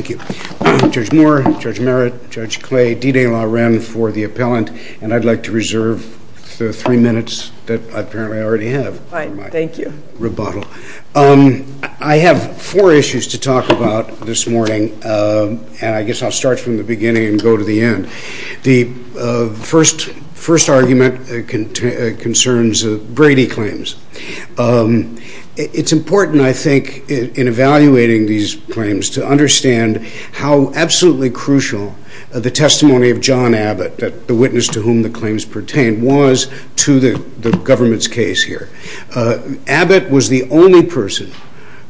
I have four issues to talk about this morning, and I guess I'll start from the beginning and go to the end. The first argument concerns Brady claims. It's important, I think, in evaluating these claims to understand how absolutely crucial the testimony of John Abbott, the witness to whom the claims pertain, was to the government's case here. Abbott was the only person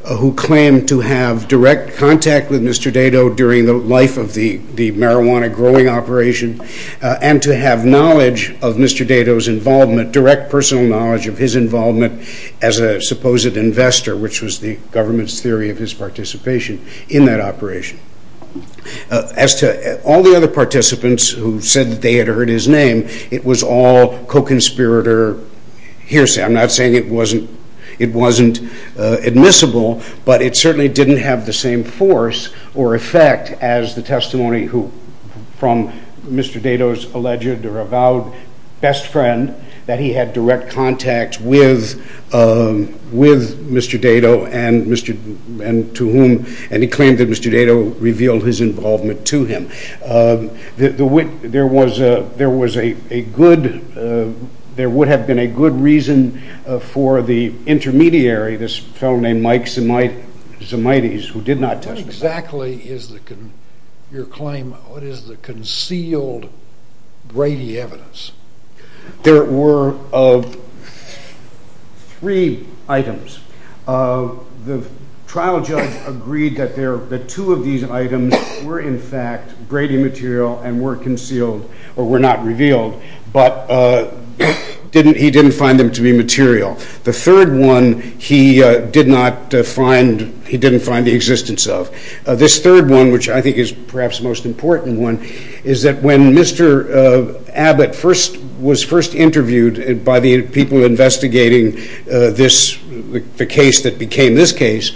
who claimed to have direct contact with Mr. Dado during the life of the marijuana growing operation, and to have knowledge of Mr. Dado's involvement, direct personal knowledge of his involvement as a supposed investor, which was the government's theory of his participation in that operation. As to all the other participants who said they had heard his name, it was all co-conspirator hearsay. I'm not saying it wasn't admissible, but it certainly didn't have the same force or effect as the testimony from Mr. Dado's alleged or avowed best friend that he had direct contact with Mr. Dado and to whom, and he claimed that Mr. Dado revealed his involvement to him. There would have been a good reason for the intermediary, this fellow named Mike Zimites, who did not testify. There were three items. The trial judge agreed that two of these items were in fact Brady material and were concealed or were not revealed, but he didn't find them to be material. The third one he didn't find the existence of. This third one, which I think is perhaps the most important one, is that when Mr. Abbott was first interviewed by the people investigating the case that became this case,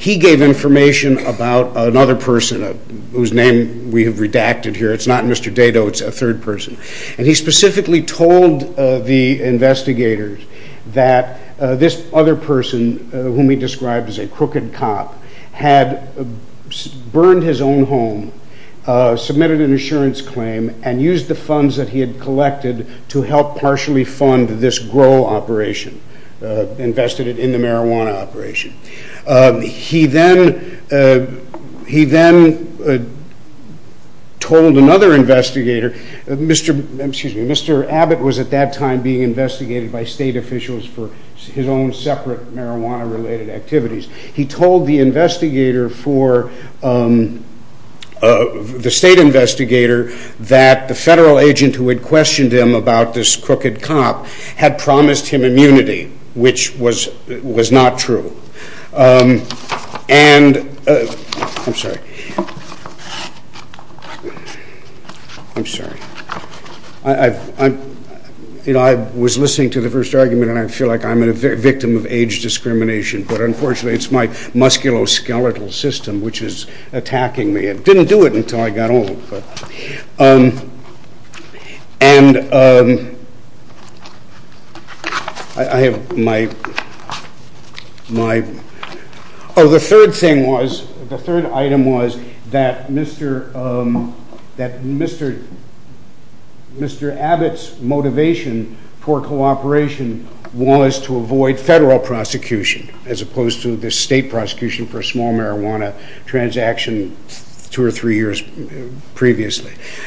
he gave information about another person whose name we have redacted here. It's not Mr. Dado, it's a third person. He specifically told the investigators that this other person, whom he described as a crooked cop, had burned his own home, submitted an insurance claim, and used the funds that he had collected to help partially fund this grow operation, invested it in the marijuana operation. He then told another investigator, Mr. Abbott was at that time being investigated by state officials for his own separate marijuana related activities. He told the state investigator that the federal agent who had questioned him about this crooked cop had promised him immunity, which was not true. I'm sorry. I was listening to the first argument and I feel like I'm a victim of age discrimination, but unfortunately it's my musculoskeletal system which is attacking me. It didn't do it until I got old. The third item was that Mr. Abbott's motivation for cooperation was to avoid federal prosecution, as opposed to the state prosecution for a small marijuana transaction two or three years prior.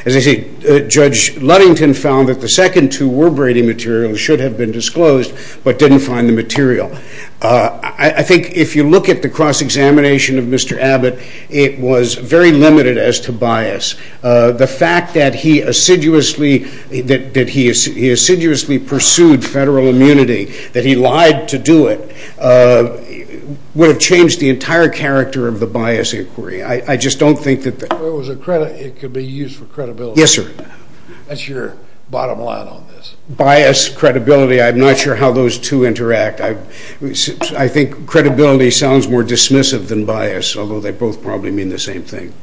As I said, Judge Ludington found that the second two were Brady materials, should have been disclosed, but didn't find the material. I think if you look at the cross-examination of Mr. Abbott, it was very limited as to bias. The fact that he assiduously pursued federal immunity, that he lied to do it, would have changed the entire character of the bias inquiry. I just don't think that... It could be used for credibility. Yes, sir. That's your bottom line on this. Bias, credibility, I'm not sure how those two interact. I think credibility sounds more dismissive than bias, although they both probably mean the same thing.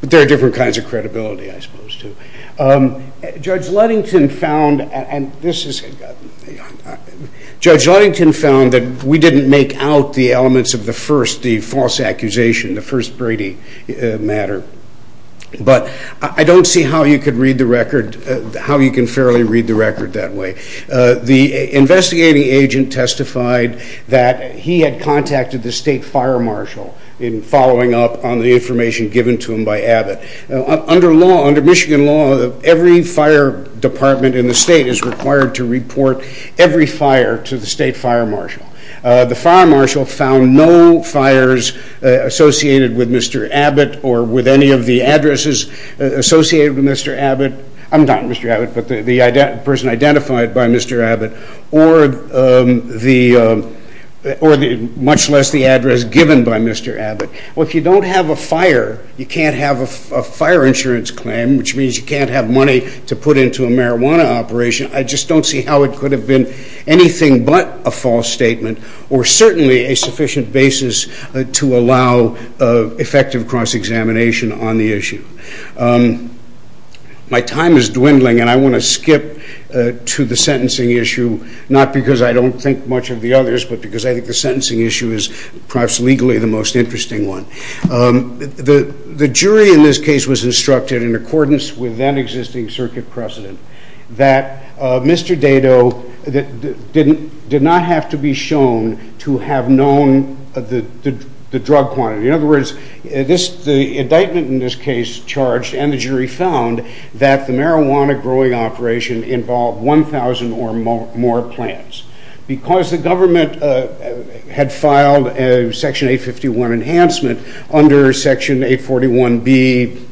But there are different kinds of credibility, I suppose, too. Judge Ludington found that we didn't make out the elements of the first, the false accusation, the first Brady matter. But I don't see how you can fairly read the record that way. The investigating agent testified that he had contacted the state fire marshal in following up on the information given to him by Abbott. Under Michigan law, every fire department in the state is required to report every fire to the state fire marshal. The fire marshal found no fires associated with Mr. Abbott or with any of the addresses associated with Mr. Abbott. I'm not Mr. Abbott, but the person identified by Mr. Abbott, or much less the address given by Mr. Abbott. Well, if you don't have a fire, you can't have a fire insurance claim, which means you can't have money to put into a marijuana operation. I just don't see how it could have been anything but a false statement or certainly a sufficient basis to allow effective cross-examination on the issue. My time is dwindling and I want to skip to the sentencing issue, not because I don't think much of the others, but because I think the sentencing issue is perhaps legally the most interesting one. The jury in this case was instructed, in accordance with then existing circuit precedent, that Mr. Dado did not have to be shown to have known the drug quantity. In other words, the indictment in this case charged and the jury found that the marijuana growing operation involved 1,000 or more plants. Because the government had filed a Section 851 enhancement under Section 841B,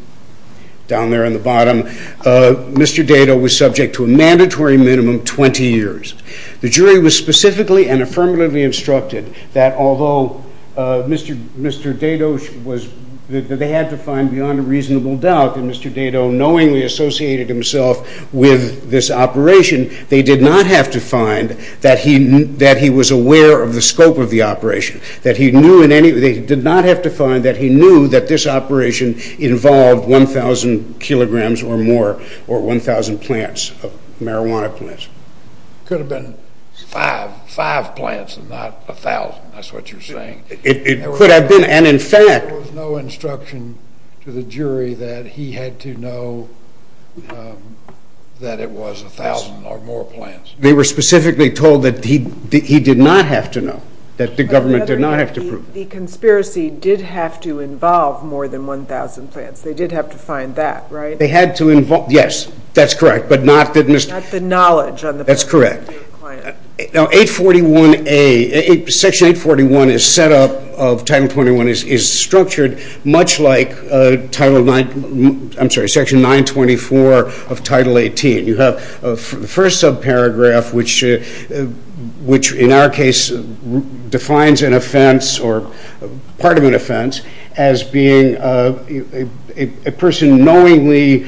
down there on the bottom, Mr. Dado was subject to a mandatory minimum of 20 years. The jury was specifically and affirmatively instructed that although Mr. Dado had to find beyond a reasonable doubt that Mr. Dado knowingly associated himself with this operation, they did not have to find that he was aware of the scope of the operation. They did not have to find that he knew that this operation involved 1,000 kilograms or more or 1,000 marijuana plants. It could have been five plants and not 1,000, that's what you're saying. There was no instruction to the jury that he had to know that it was 1,000 or more plants. They were specifically told that he did not have to know, that the government did not have to prove it. The conspiracy did have to involve more than 1,000 plants. They did have to find that, right? They had to involve, yes, that's correct. Not the knowledge on the plant. That's correct. Section 841 is set up, Title 21 is structured much like Section 924 of Title 18. You have the first subparagraph, which in our case defines an offense or part of an offense as being a person knowingly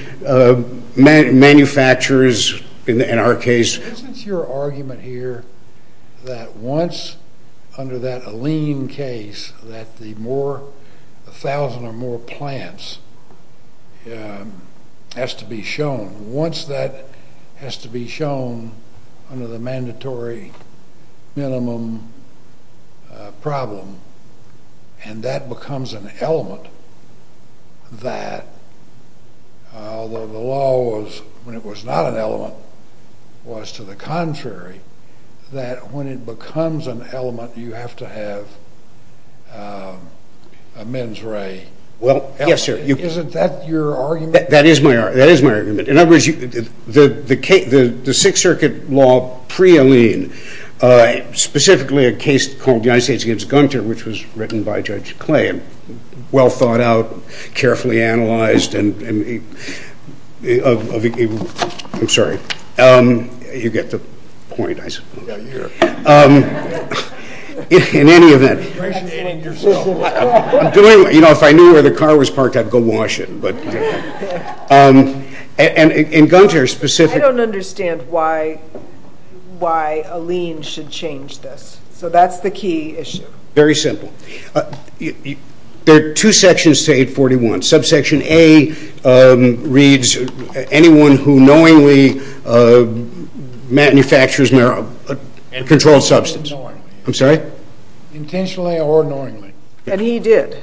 manufactures, in our case. Isn't your argument here that once under that Allene case that the more, 1,000 or more plants has to be shown, once that has to be shown under the mandatory minimum problem and that becomes an element that, although the law was, when it was not an element, was to the contrary, that when it becomes an element you have to have a mens re. Well, yes, sir. Isn't that your argument? That is my argument. In other words, the Sixth Circuit law pre-Allene, specifically a case called United States against Gunter, which was written by Judge Clay and well thought out, carefully analyzed. I'm sorry. You get the point, I suppose. In any event, if I knew where the car was parked, I'd go wash it. In Gunter's specific... I don't understand why Allene should change this. So that's the key issue. Very simple. There are two sections to 841. Subsection A reads anyone who knowingly manufactures and controls substance. I'm sorry? Intentionally or knowingly. And he did.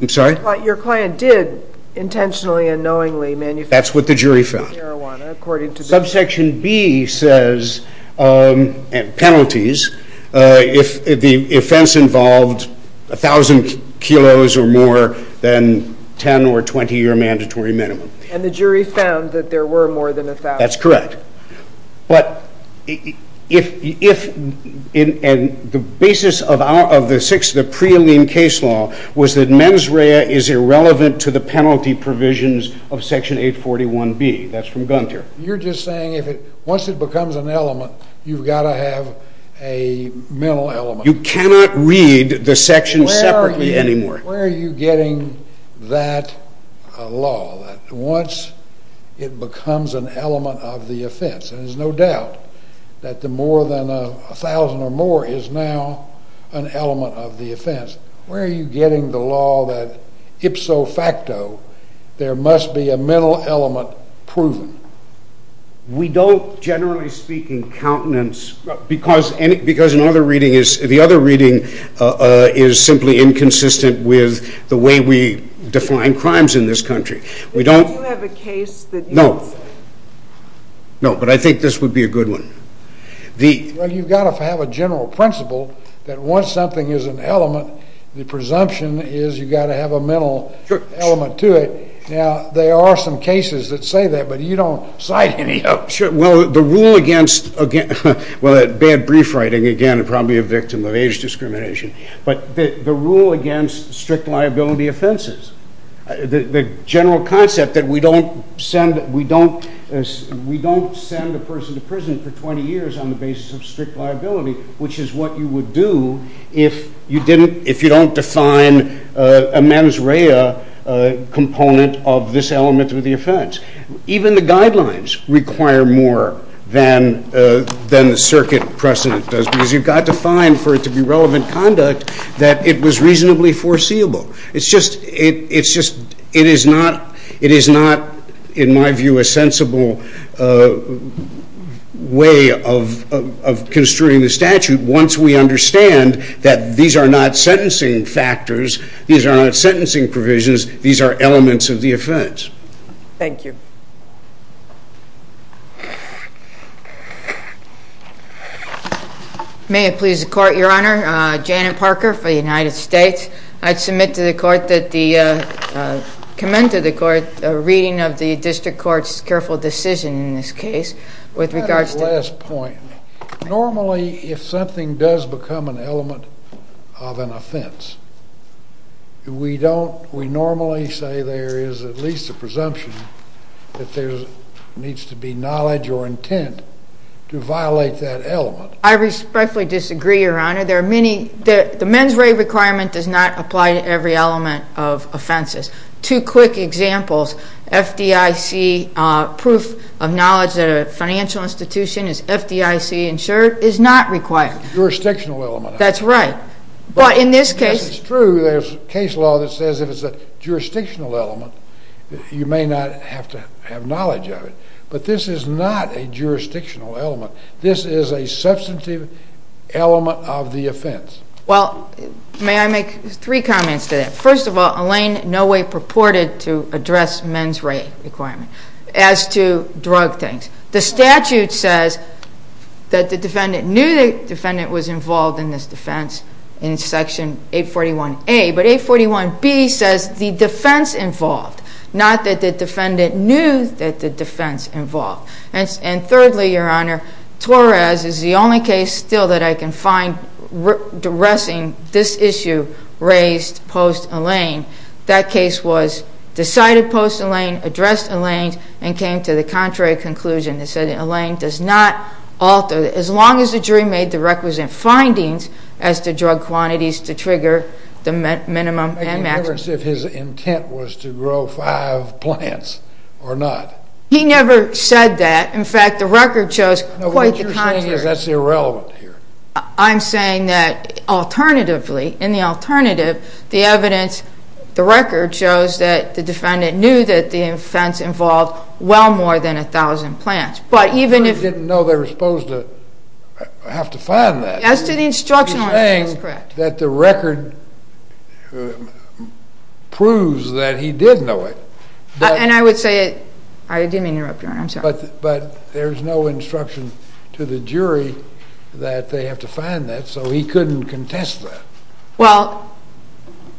I'm sorry? Your client did intentionally and knowingly manufacture marijuana, according to the... That's what the jury found. Subsection B says penalties if the offense involved 1,000 kilos or more than 10 or 20-year mandatory minimum. And the jury found that there were more than 1,000. That's correct. But if... And the basis of the pre-Allene case law was that mens rea is irrelevant to the penalty provisions of Section 841B. That's from Gunter. You're just saying once it becomes an element, you've got to have a mental element. You cannot read the sections separately anymore. Where are you getting that law? Once it becomes an element of the offense, and there's no doubt that the more than 1,000 or more is now an element of the offense, where are you getting the law that ipso facto there must be a mental element proven? We don't, generally speaking, countenance. Because the other reading is simply inconsistent with the way we define crimes in this country. Do you have a case that you would cite? No, but I think this would be a good one. Well, you've got to have a general principle that once something is an element, the presumption is you've got to have a mental element to it. Now, there are some cases that say that, but you don't cite any of them. Well, the rule against, well, bad brief writing again, probably a victim of age discrimination, but the rule against strict liability offenses, the general concept that we don't send a person to prison for 20 years on the basis of strict liability, which is what you would do if you don't define a mens rea component of this element of the offense. Even the guidelines require more than the circuit precedent does, because you've got to find for it to be relevant conduct that it was reasonably foreseeable. It's just, it is not, in my view, a sensible way of construing the statute once we understand that these are not sentencing factors, these are not sentencing provisions, these are elements of the offense. Thank you. May it please the Court, Your Honor. Janet Parker for the United States. I'd submit to the Court that the, commend to the Court a reading of the District Court's careful decision in this case with regards to- I have a last point. Normally, if something does become an element of an offense, we don't, we normally say there is at least a presumption that there needs to be knowledge or intent to violate that element. I respectfully disagree, Your Honor. There are many, the mens rea requirement does not apply to every element of offenses. Two quick examples. FDIC proof of knowledge that a financial institution is FDIC insured is not required. Jurisdictional element. That's right. But in this case- Yes, it's true. There's case law that says if it's a jurisdictional element, you may not have to have knowledge of it. But this is not a jurisdictional element. This is a substantive element of the offense. Well, may I make three comments to that? First of all, Elaine in no way purported to address mens re requirement as to drug things. The statute says that the defendant knew the defendant was involved in this defense in Section 841A, but 841B says the defense involved, not that the defendant knew that the defense involved. And thirdly, Your Honor, Torres is the only case still that I can find addressing this issue raised post-Elaine. That case was decided post-Elaine, addressed Elaine, and came to the contrary conclusion. It said Elaine does not alter, as long as the jury made the requisite findings, as to drug quantities to trigger the minimum and maximum. Making a difference if his intent was to grow five plants or not. He never said that. In fact, the record shows quite the contrary. What you're saying is that's irrelevant here. I'm saying that alternatively, in the alternative, the evidence, the record, shows that the defendant knew that the offense involved well more than 1,000 plants. But even if... He didn't know they were supposed to have to find that. As to the instructional element, that's correct. He's saying that the record proves that he did know it. And I would say it... I didn't interrupt, Your Honor. I'm sorry. But there's no instruction to the jury that they have to find that, so he couldn't contest that. Well,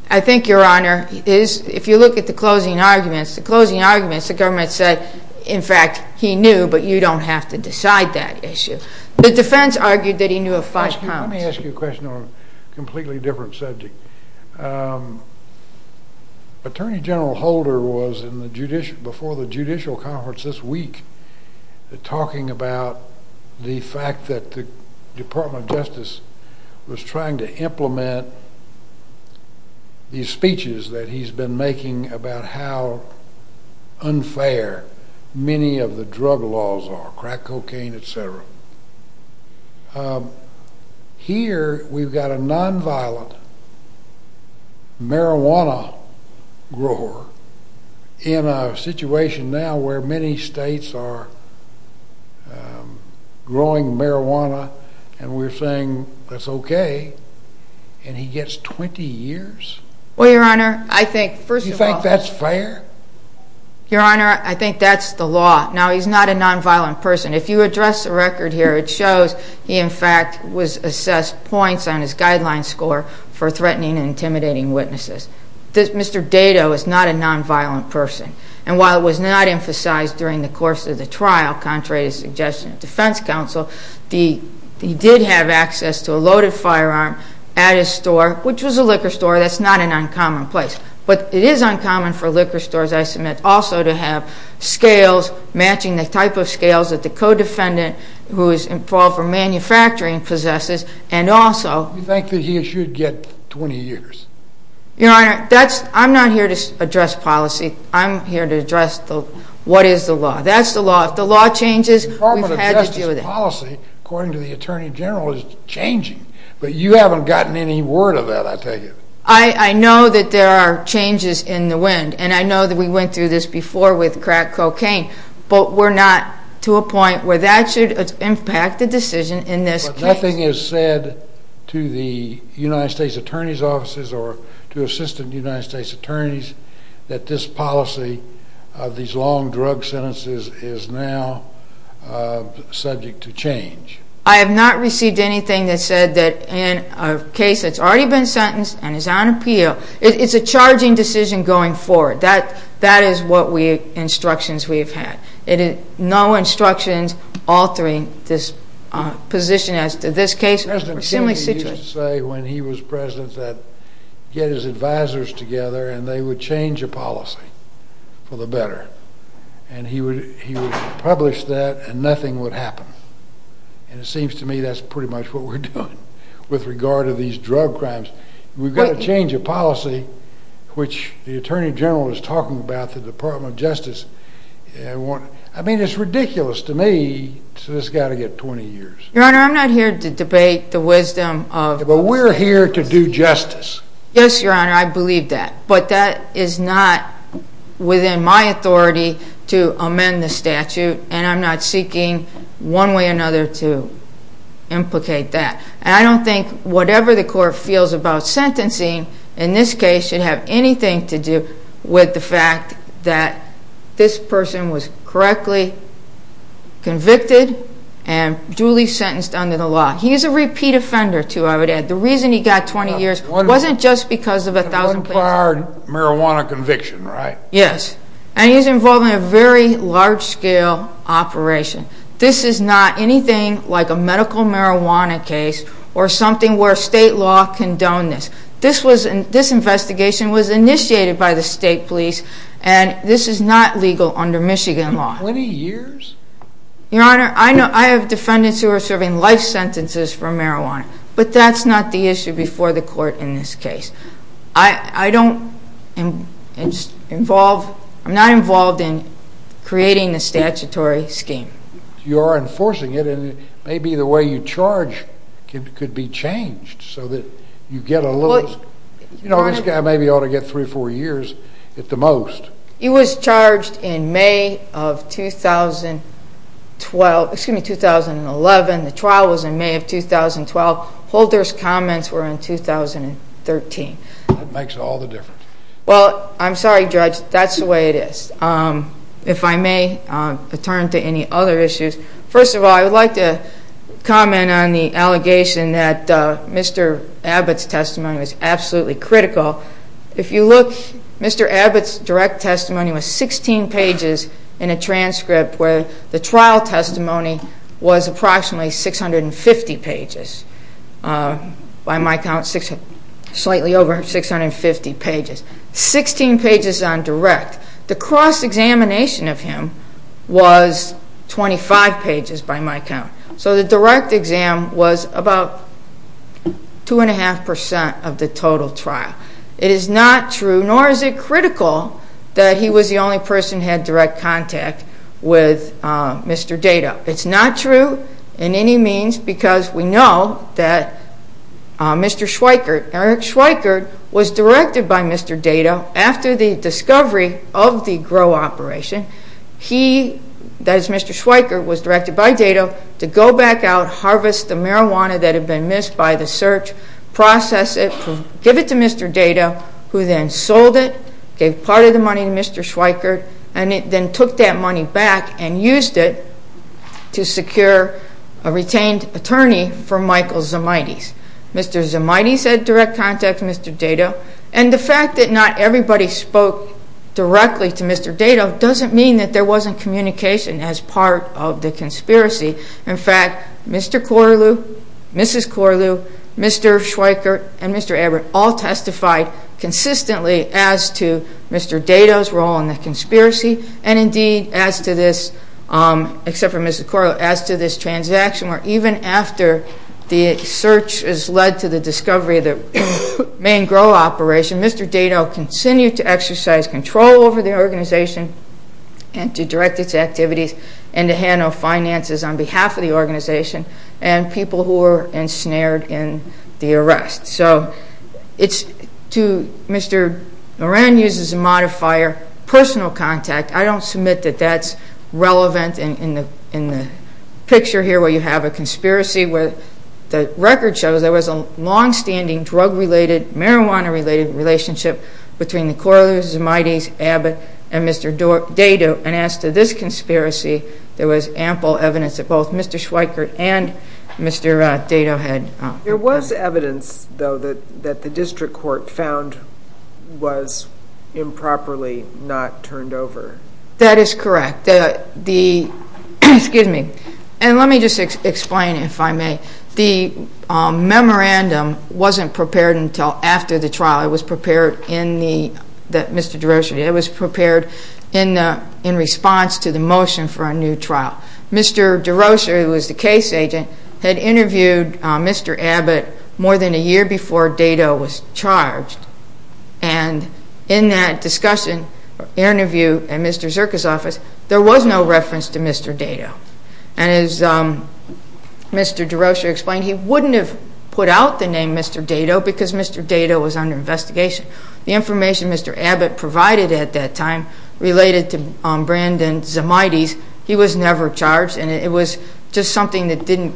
I think, Your Honor, if you look at the closing arguments, the closing arguments, the government said, in fact, he knew, but you don't have to decide that issue. The defense argued that he knew of five plants. Let me ask you a question on a completely different subject. Attorney General Holder was, before the judicial conference this week, talking about the fact that the Department of Justice was trying to implement these speeches that he's been making about how unfair many of the drug laws are, crack cocaine, etc. Here, we've got a nonviolent marijuana grower in a situation now where many states are growing marijuana and we're saying that's okay, and he gets 20 years? Well, Your Honor, I think, first of all... Do you think that's fair? Your Honor, I think that's the law. Now, he's not a nonviolent person. If you address the record here, it shows he, in fact, was assessed points on his guideline score for threatening and intimidating witnesses. Mr. Dado is not a nonviolent person, and while it was not emphasized during the course of the trial, contrary to suggestions of defense counsel, he did have access to a loaded firearm at his store, which was a liquor store. That's not an uncommon place, but it is uncommon for liquor stores, I submit, also to have scales matching the type of scales that the co-defendant who is involved in manufacturing possesses, and also... You think that he should get 20 years? Your Honor, I'm not here to address policy. I'm here to address what is the law. That's the law. If the law changes, we've had to deal with it. The Department of Justice's policy, according to the Attorney General, is changing, but you haven't gotten any word of that, I take it. I know that there are changes in the wind, and I know that we went through this before with crack cocaine, but we're not to a point where that should impact the decision in this case. But nothing is said to the United States Attorney's offices or to Assistant United States Attorneys that this policy of these long drug sentences is now subject to change. I have not received anything that said that in a case that's already been sentenced and is on appeal, it's a charging decision going forward. That is what instructions we have had. No instructions altering this position as to this case or similar situation. President Kennedy used to say when he was President that get his advisors together, and they would change a policy for the better. And he would publish that, and nothing would happen. And it seems to me that's pretty much what we're doing with regard to these drug crimes. We've got to change a policy, which the Attorney General is talking about, the Department of Justice. I mean, it's ridiculous to me, so this has got to get 20 years. Your Honor, I'm not here to debate the wisdom of— But we're here to do justice. Yes, Your Honor, I believe that. But that is not within my authority to amend the statute, and I'm not seeking one way or another to implicate that. And I don't think whatever the court feels about sentencing in this case should have anything to do with the fact that this person was correctly convicted and duly sentenced under the law. He is a repeat offender, too, I would add. The reason he got 20 years wasn't just because of 1,000— One part marijuana conviction, right? Yes, and he's involved in a very large-scale operation. This is not anything like a medical marijuana case or something where state law condoned this. This investigation was initiated by the state police, and this is not legal under Michigan law. 20 years? Your Honor, I have defendants who are serving life sentences for marijuana, but that's not the issue before the court in this case. I don't involve—I'm not involved in creating a statutory scheme. You are enforcing it, and maybe the way you charge could be changed so that you get a little—you know, this guy maybe ought to get 3 or 4 years at the most. He was charged in May of 2012—excuse me, 2011. The trial was in May of 2012. Holder's comments were in 2013. That makes all the difference. Well, I'm sorry, Judge, that's the way it is. If I may return to any other issues, first of all, I would like to comment on the allegation that Mr. Abbott's testimony was absolutely critical. If you look, Mr. Abbott's direct testimony was 16 pages in a transcript where the trial testimony was approximately 650 pages. By my count, slightly over 650 pages. Sixteen pages on direct. The cross-examination of him was 25 pages by my count. So the direct exam was about 2.5% of the total trial. It is not true, nor is it critical, that he was the only person who had direct contact with Mr. Dado. It's not true in any means because we know that Mr. Schweikert, Eric Schweikert, was directed by Mr. Dado after the discovery of the GROW operation. He, that is Mr. Schweikert, was directed by Dado to go back out, harvest the marijuana that had been missed by the search, process it, give it to Mr. Dado, who then sold it, gave part of the money to Mr. Schweikert, and then took that money back and used it to secure a retained attorney for Michael Zimaitis. Mr. Zimaitis had direct contact with Mr. Dado, and the fact that not everybody spoke directly to Mr. Dado doesn't mean that there wasn't communication as part of the conspiracy. In fact, Mr. Corlew, Mrs. Corlew, Mr. Schweikert, and Mr. Abbott all testified consistently as to Mr. Dado's role in the conspiracy, and indeed as to this, except for Mrs. Corlew, as to this transaction, where even after the search has led to the discovery of the main GROW operation, Mr. Dado continued to exercise control over the organization and to direct its activities and to handle finances on behalf of the organization and people who were ensnared in the arrest. So Mr. Moran uses a modifier, personal contact. I don't submit that that's relevant in the picture here where you have a conspiracy. The record shows there was a long-standing drug-related, marijuana-related relationship between the Corlews, the Mightys, Abbott, and Mr. Dado, and as to this conspiracy, there was ample evidence that both Mr. Schweikert and Mr. Dado had. There was evidence, though, that the district court found was improperly not turned over. That is correct. And let me just explain, if I may. The memorandum wasn't prepared until after the trial. It was prepared in response to the motion for a new trial. Mr. Derosier, who was the case agent, had interviewed Mr. Abbott more than a year before Dado was charged, and in that discussion, interview, at Mr. Zyrka's office, there was no reference to Mr. Dado. And as Mr. Derosier explained, he wouldn't have put out the name Mr. Dado because Mr. Dado was under investigation. The information Mr. Abbott provided at that time related to Brandon's Mightys. He was never charged, and it was just something that didn't,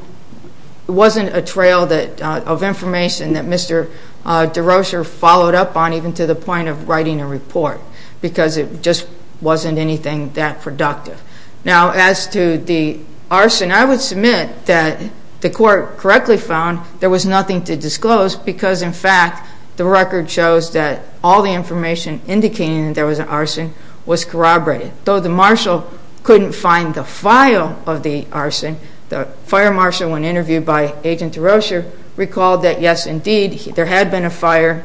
it wasn't a trail of information that Mr. Derosier followed up on, even to the point of writing a report, because it just wasn't anything that productive. Now, as to the arson, I would submit that the court correctly found there was nothing to disclose because, in fact, the record shows that all the information indicating that there was an arson was corroborated. Though the marshal couldn't find the file of the arson, the fire marshal, when interviewed by Agent Derosier, recalled that, yes, indeed, there had been a fire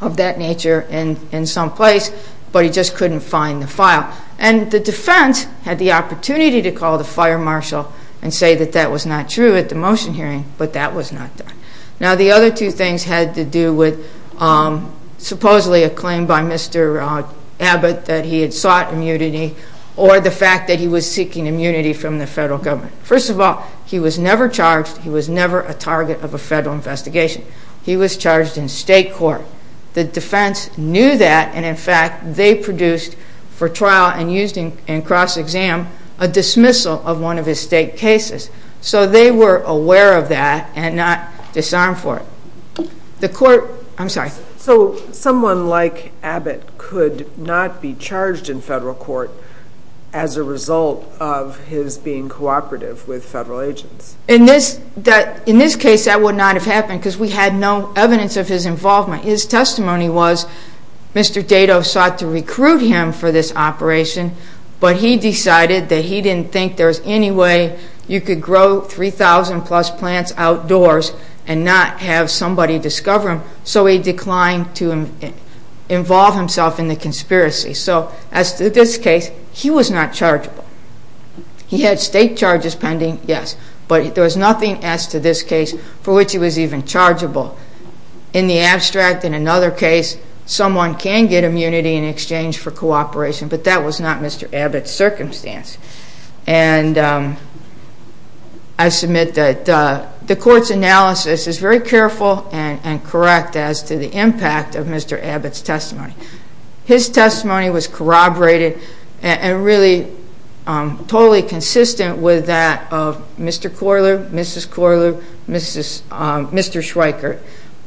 of that nature in some place, but he just couldn't find the file. And the defense had the opportunity to call the fire marshal and say that that was not true at the motion hearing, but that was not done. Now, the other two things had to do with supposedly a claim by Mr. Abbott that he had sought immunity or the fact that he was seeking immunity from the federal government. First of all, he was never charged. He was never a target of a federal investigation. He was charged in state court. The defense knew that, and, in fact, they produced for trial and used in cross-exam a dismissal of one of his state cases. So they were aware of that and not disarmed for it. The court—I'm sorry. So someone like Abbott could not be charged in federal court as a result of his being cooperative with federal agents. In this case, that would not have happened because we had no evidence of his involvement. His testimony was Mr. Dado sought to recruit him for this operation, but he decided that he didn't think there was any way you could grow 3,000-plus plants outdoors and not have somebody discover them, so he declined to involve himself in the conspiracy. So as to this case, he was not chargeable. He had state charges pending, yes, but there was nothing as to this case for which he was even chargeable. In the abstract, in another case, someone can get immunity in exchange for cooperation, but that was not Mr. Abbott's circumstance. And I submit that the court's analysis is very careful and correct as to the impact of Mr. Abbott's testimony. His testimony was corroborated and really totally consistent with that of Mr. Corlew, Mrs. Corlew, Mr. Schweiker,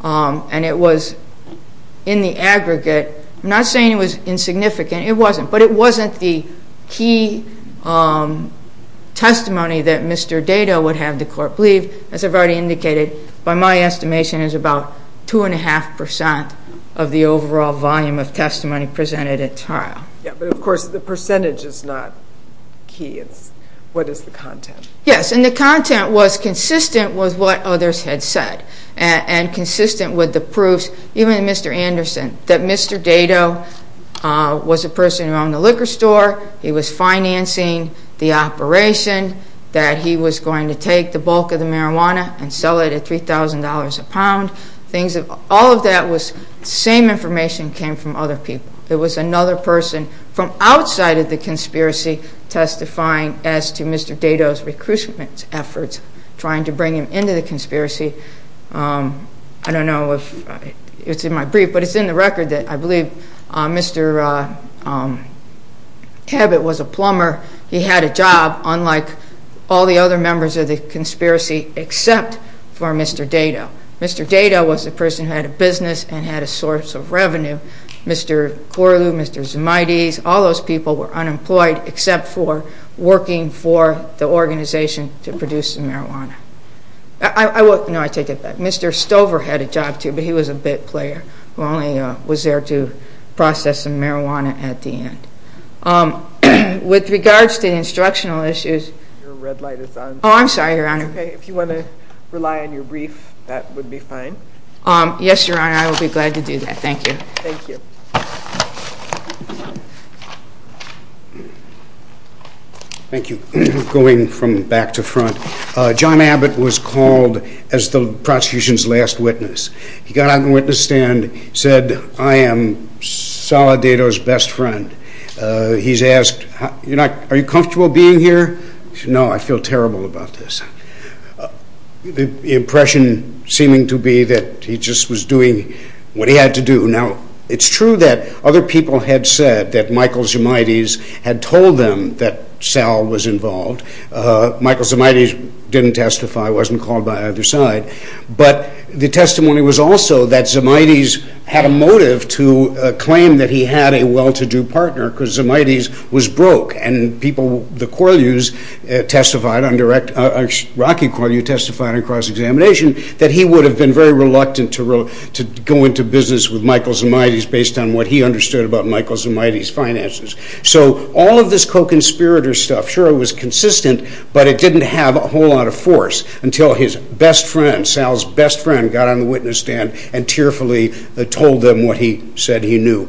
and it was in the aggregate. I'm not saying it was insignificant. It wasn't, but it wasn't the key testimony that Mr. Dado would have the court believe. As I've already indicated, by my estimation, it was about 2.5 percent of the overall volume of testimony presented at trial. Yeah, but of course the percentage is not key. It's what is the content. Yes, and the content was consistent with what others had said and consistent with the proofs, even Mr. Anderson, that Mr. Dado was a person who owned a liquor store, he was financing the operation, that he was going to take the bulk of the marijuana and sell it at $3,000 a pound. All of that same information came from other people. It was another person from outside of the conspiracy testifying as to Mr. Dado's recruitment efforts, trying to bring him into the conspiracy. I don't know if it's in my brief, but it's in the record that I believe Mr. Hebbett was a plumber. He had a job, unlike all the other members of the conspiracy, except for Mr. Dado. Mr. Dado was a person who had a business and had a source of revenue. Mr. Corlew, Mr. Zumaides, all those people were unemployed except for working for the organization to produce the marijuana. No, I take it back. Mr. Stover had a job, too, but he was a bit player who only was there to process the marijuana at the end. With regards to the instructional issues... Your red light is on. Oh, I'm sorry, Your Honor. Okay, if you want to rely on your brief, that would be fine. Yes, Your Honor, I would be glad to do that. Thank you. Thank you. Thank you. Going from back to front, John Abbott was called as the prosecution's last witness. He got on the witness stand, said, I am Solid Dado's best friend. He's asked, Are you comfortable being here? No, I feel terrible about this. The impression seeming to be that he just was doing what he had to do. Now, it's true that other people had said that Michael Zimides had told them that Sal was involved. Michael Zimides didn't testify, wasn't called by either side. But the testimony was also that Zimides had a motive to claim that he had a well-to-do partner because Zimides was broke. And people, the Corlews testified, Rocky Corlew testified on cross-examination that he would have been very reluctant to go into business with Michael Zimides based on what he understood about Michael Zimides' finances. So all of this co-conspirator stuff, sure it was consistent, but it didn't have a whole lot of force until his best friend, Sal's best friend, got on the witness stand and tearfully told them what he said he knew.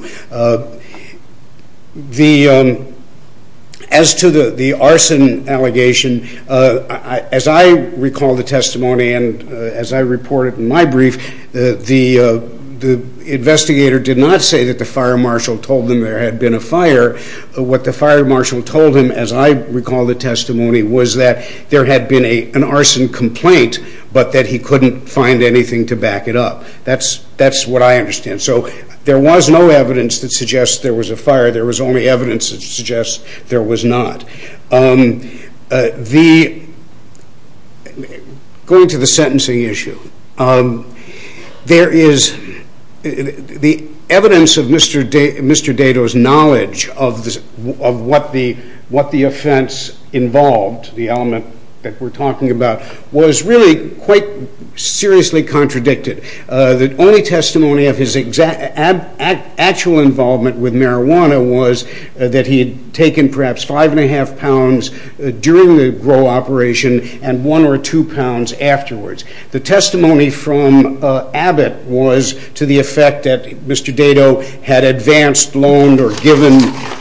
As to the arson allegation, as I recall the testimony and as I reported in my brief, the investigator did not say that the fire marshal told them there had been a fire. What the fire marshal told him, as I recall the testimony, was that there had been an arson complaint, but that he couldn't find anything to back it up. That's what I understand. So there was no evidence that suggests there was a fire. There was only evidence that suggests there was not. Going to the sentencing issue, there is the evidence of Mr. Dato's knowledge of what the offense involved, the element that we're talking about, was really quite seriously contradicted. The only testimony of his actual involvement with marijuana was that he had taken perhaps five and a half pounds during the Gro operation and one or two pounds afterwards. The testimony from Abbott was to the effect that Mr. Dato had advanced, loaned or given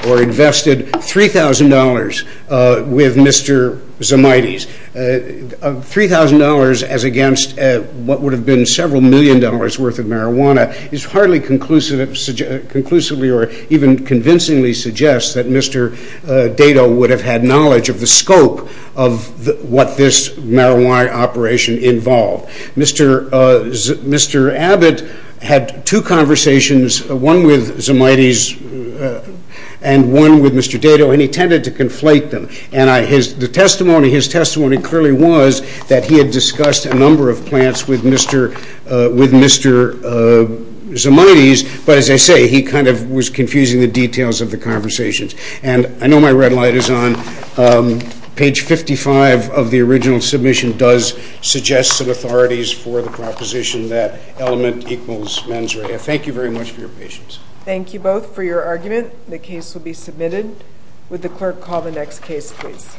or invested $3,000 with Mr. Zimites. $3,000 as against what would have been several million dollars worth of marijuana is hardly conclusively or even convincingly suggests that Mr. Dato would have had knowledge of the scope of what this marijuana operation involved. Mr. Abbott had two conversations, one with Zimites and one with Mr. Dato, and he tended to conflate them. His testimony clearly was that he had discussed a number of plants with Mr. Zimites, but as I say, he kind of was confusing the details of the conversations. And I know my red light is on. Page 55 of the original submission does suggest some authorities for the proposition that element equals mens rea. Thank you very much for your patience. Thank you both for your argument. The case will be submitted. Would the clerk call the next case, please?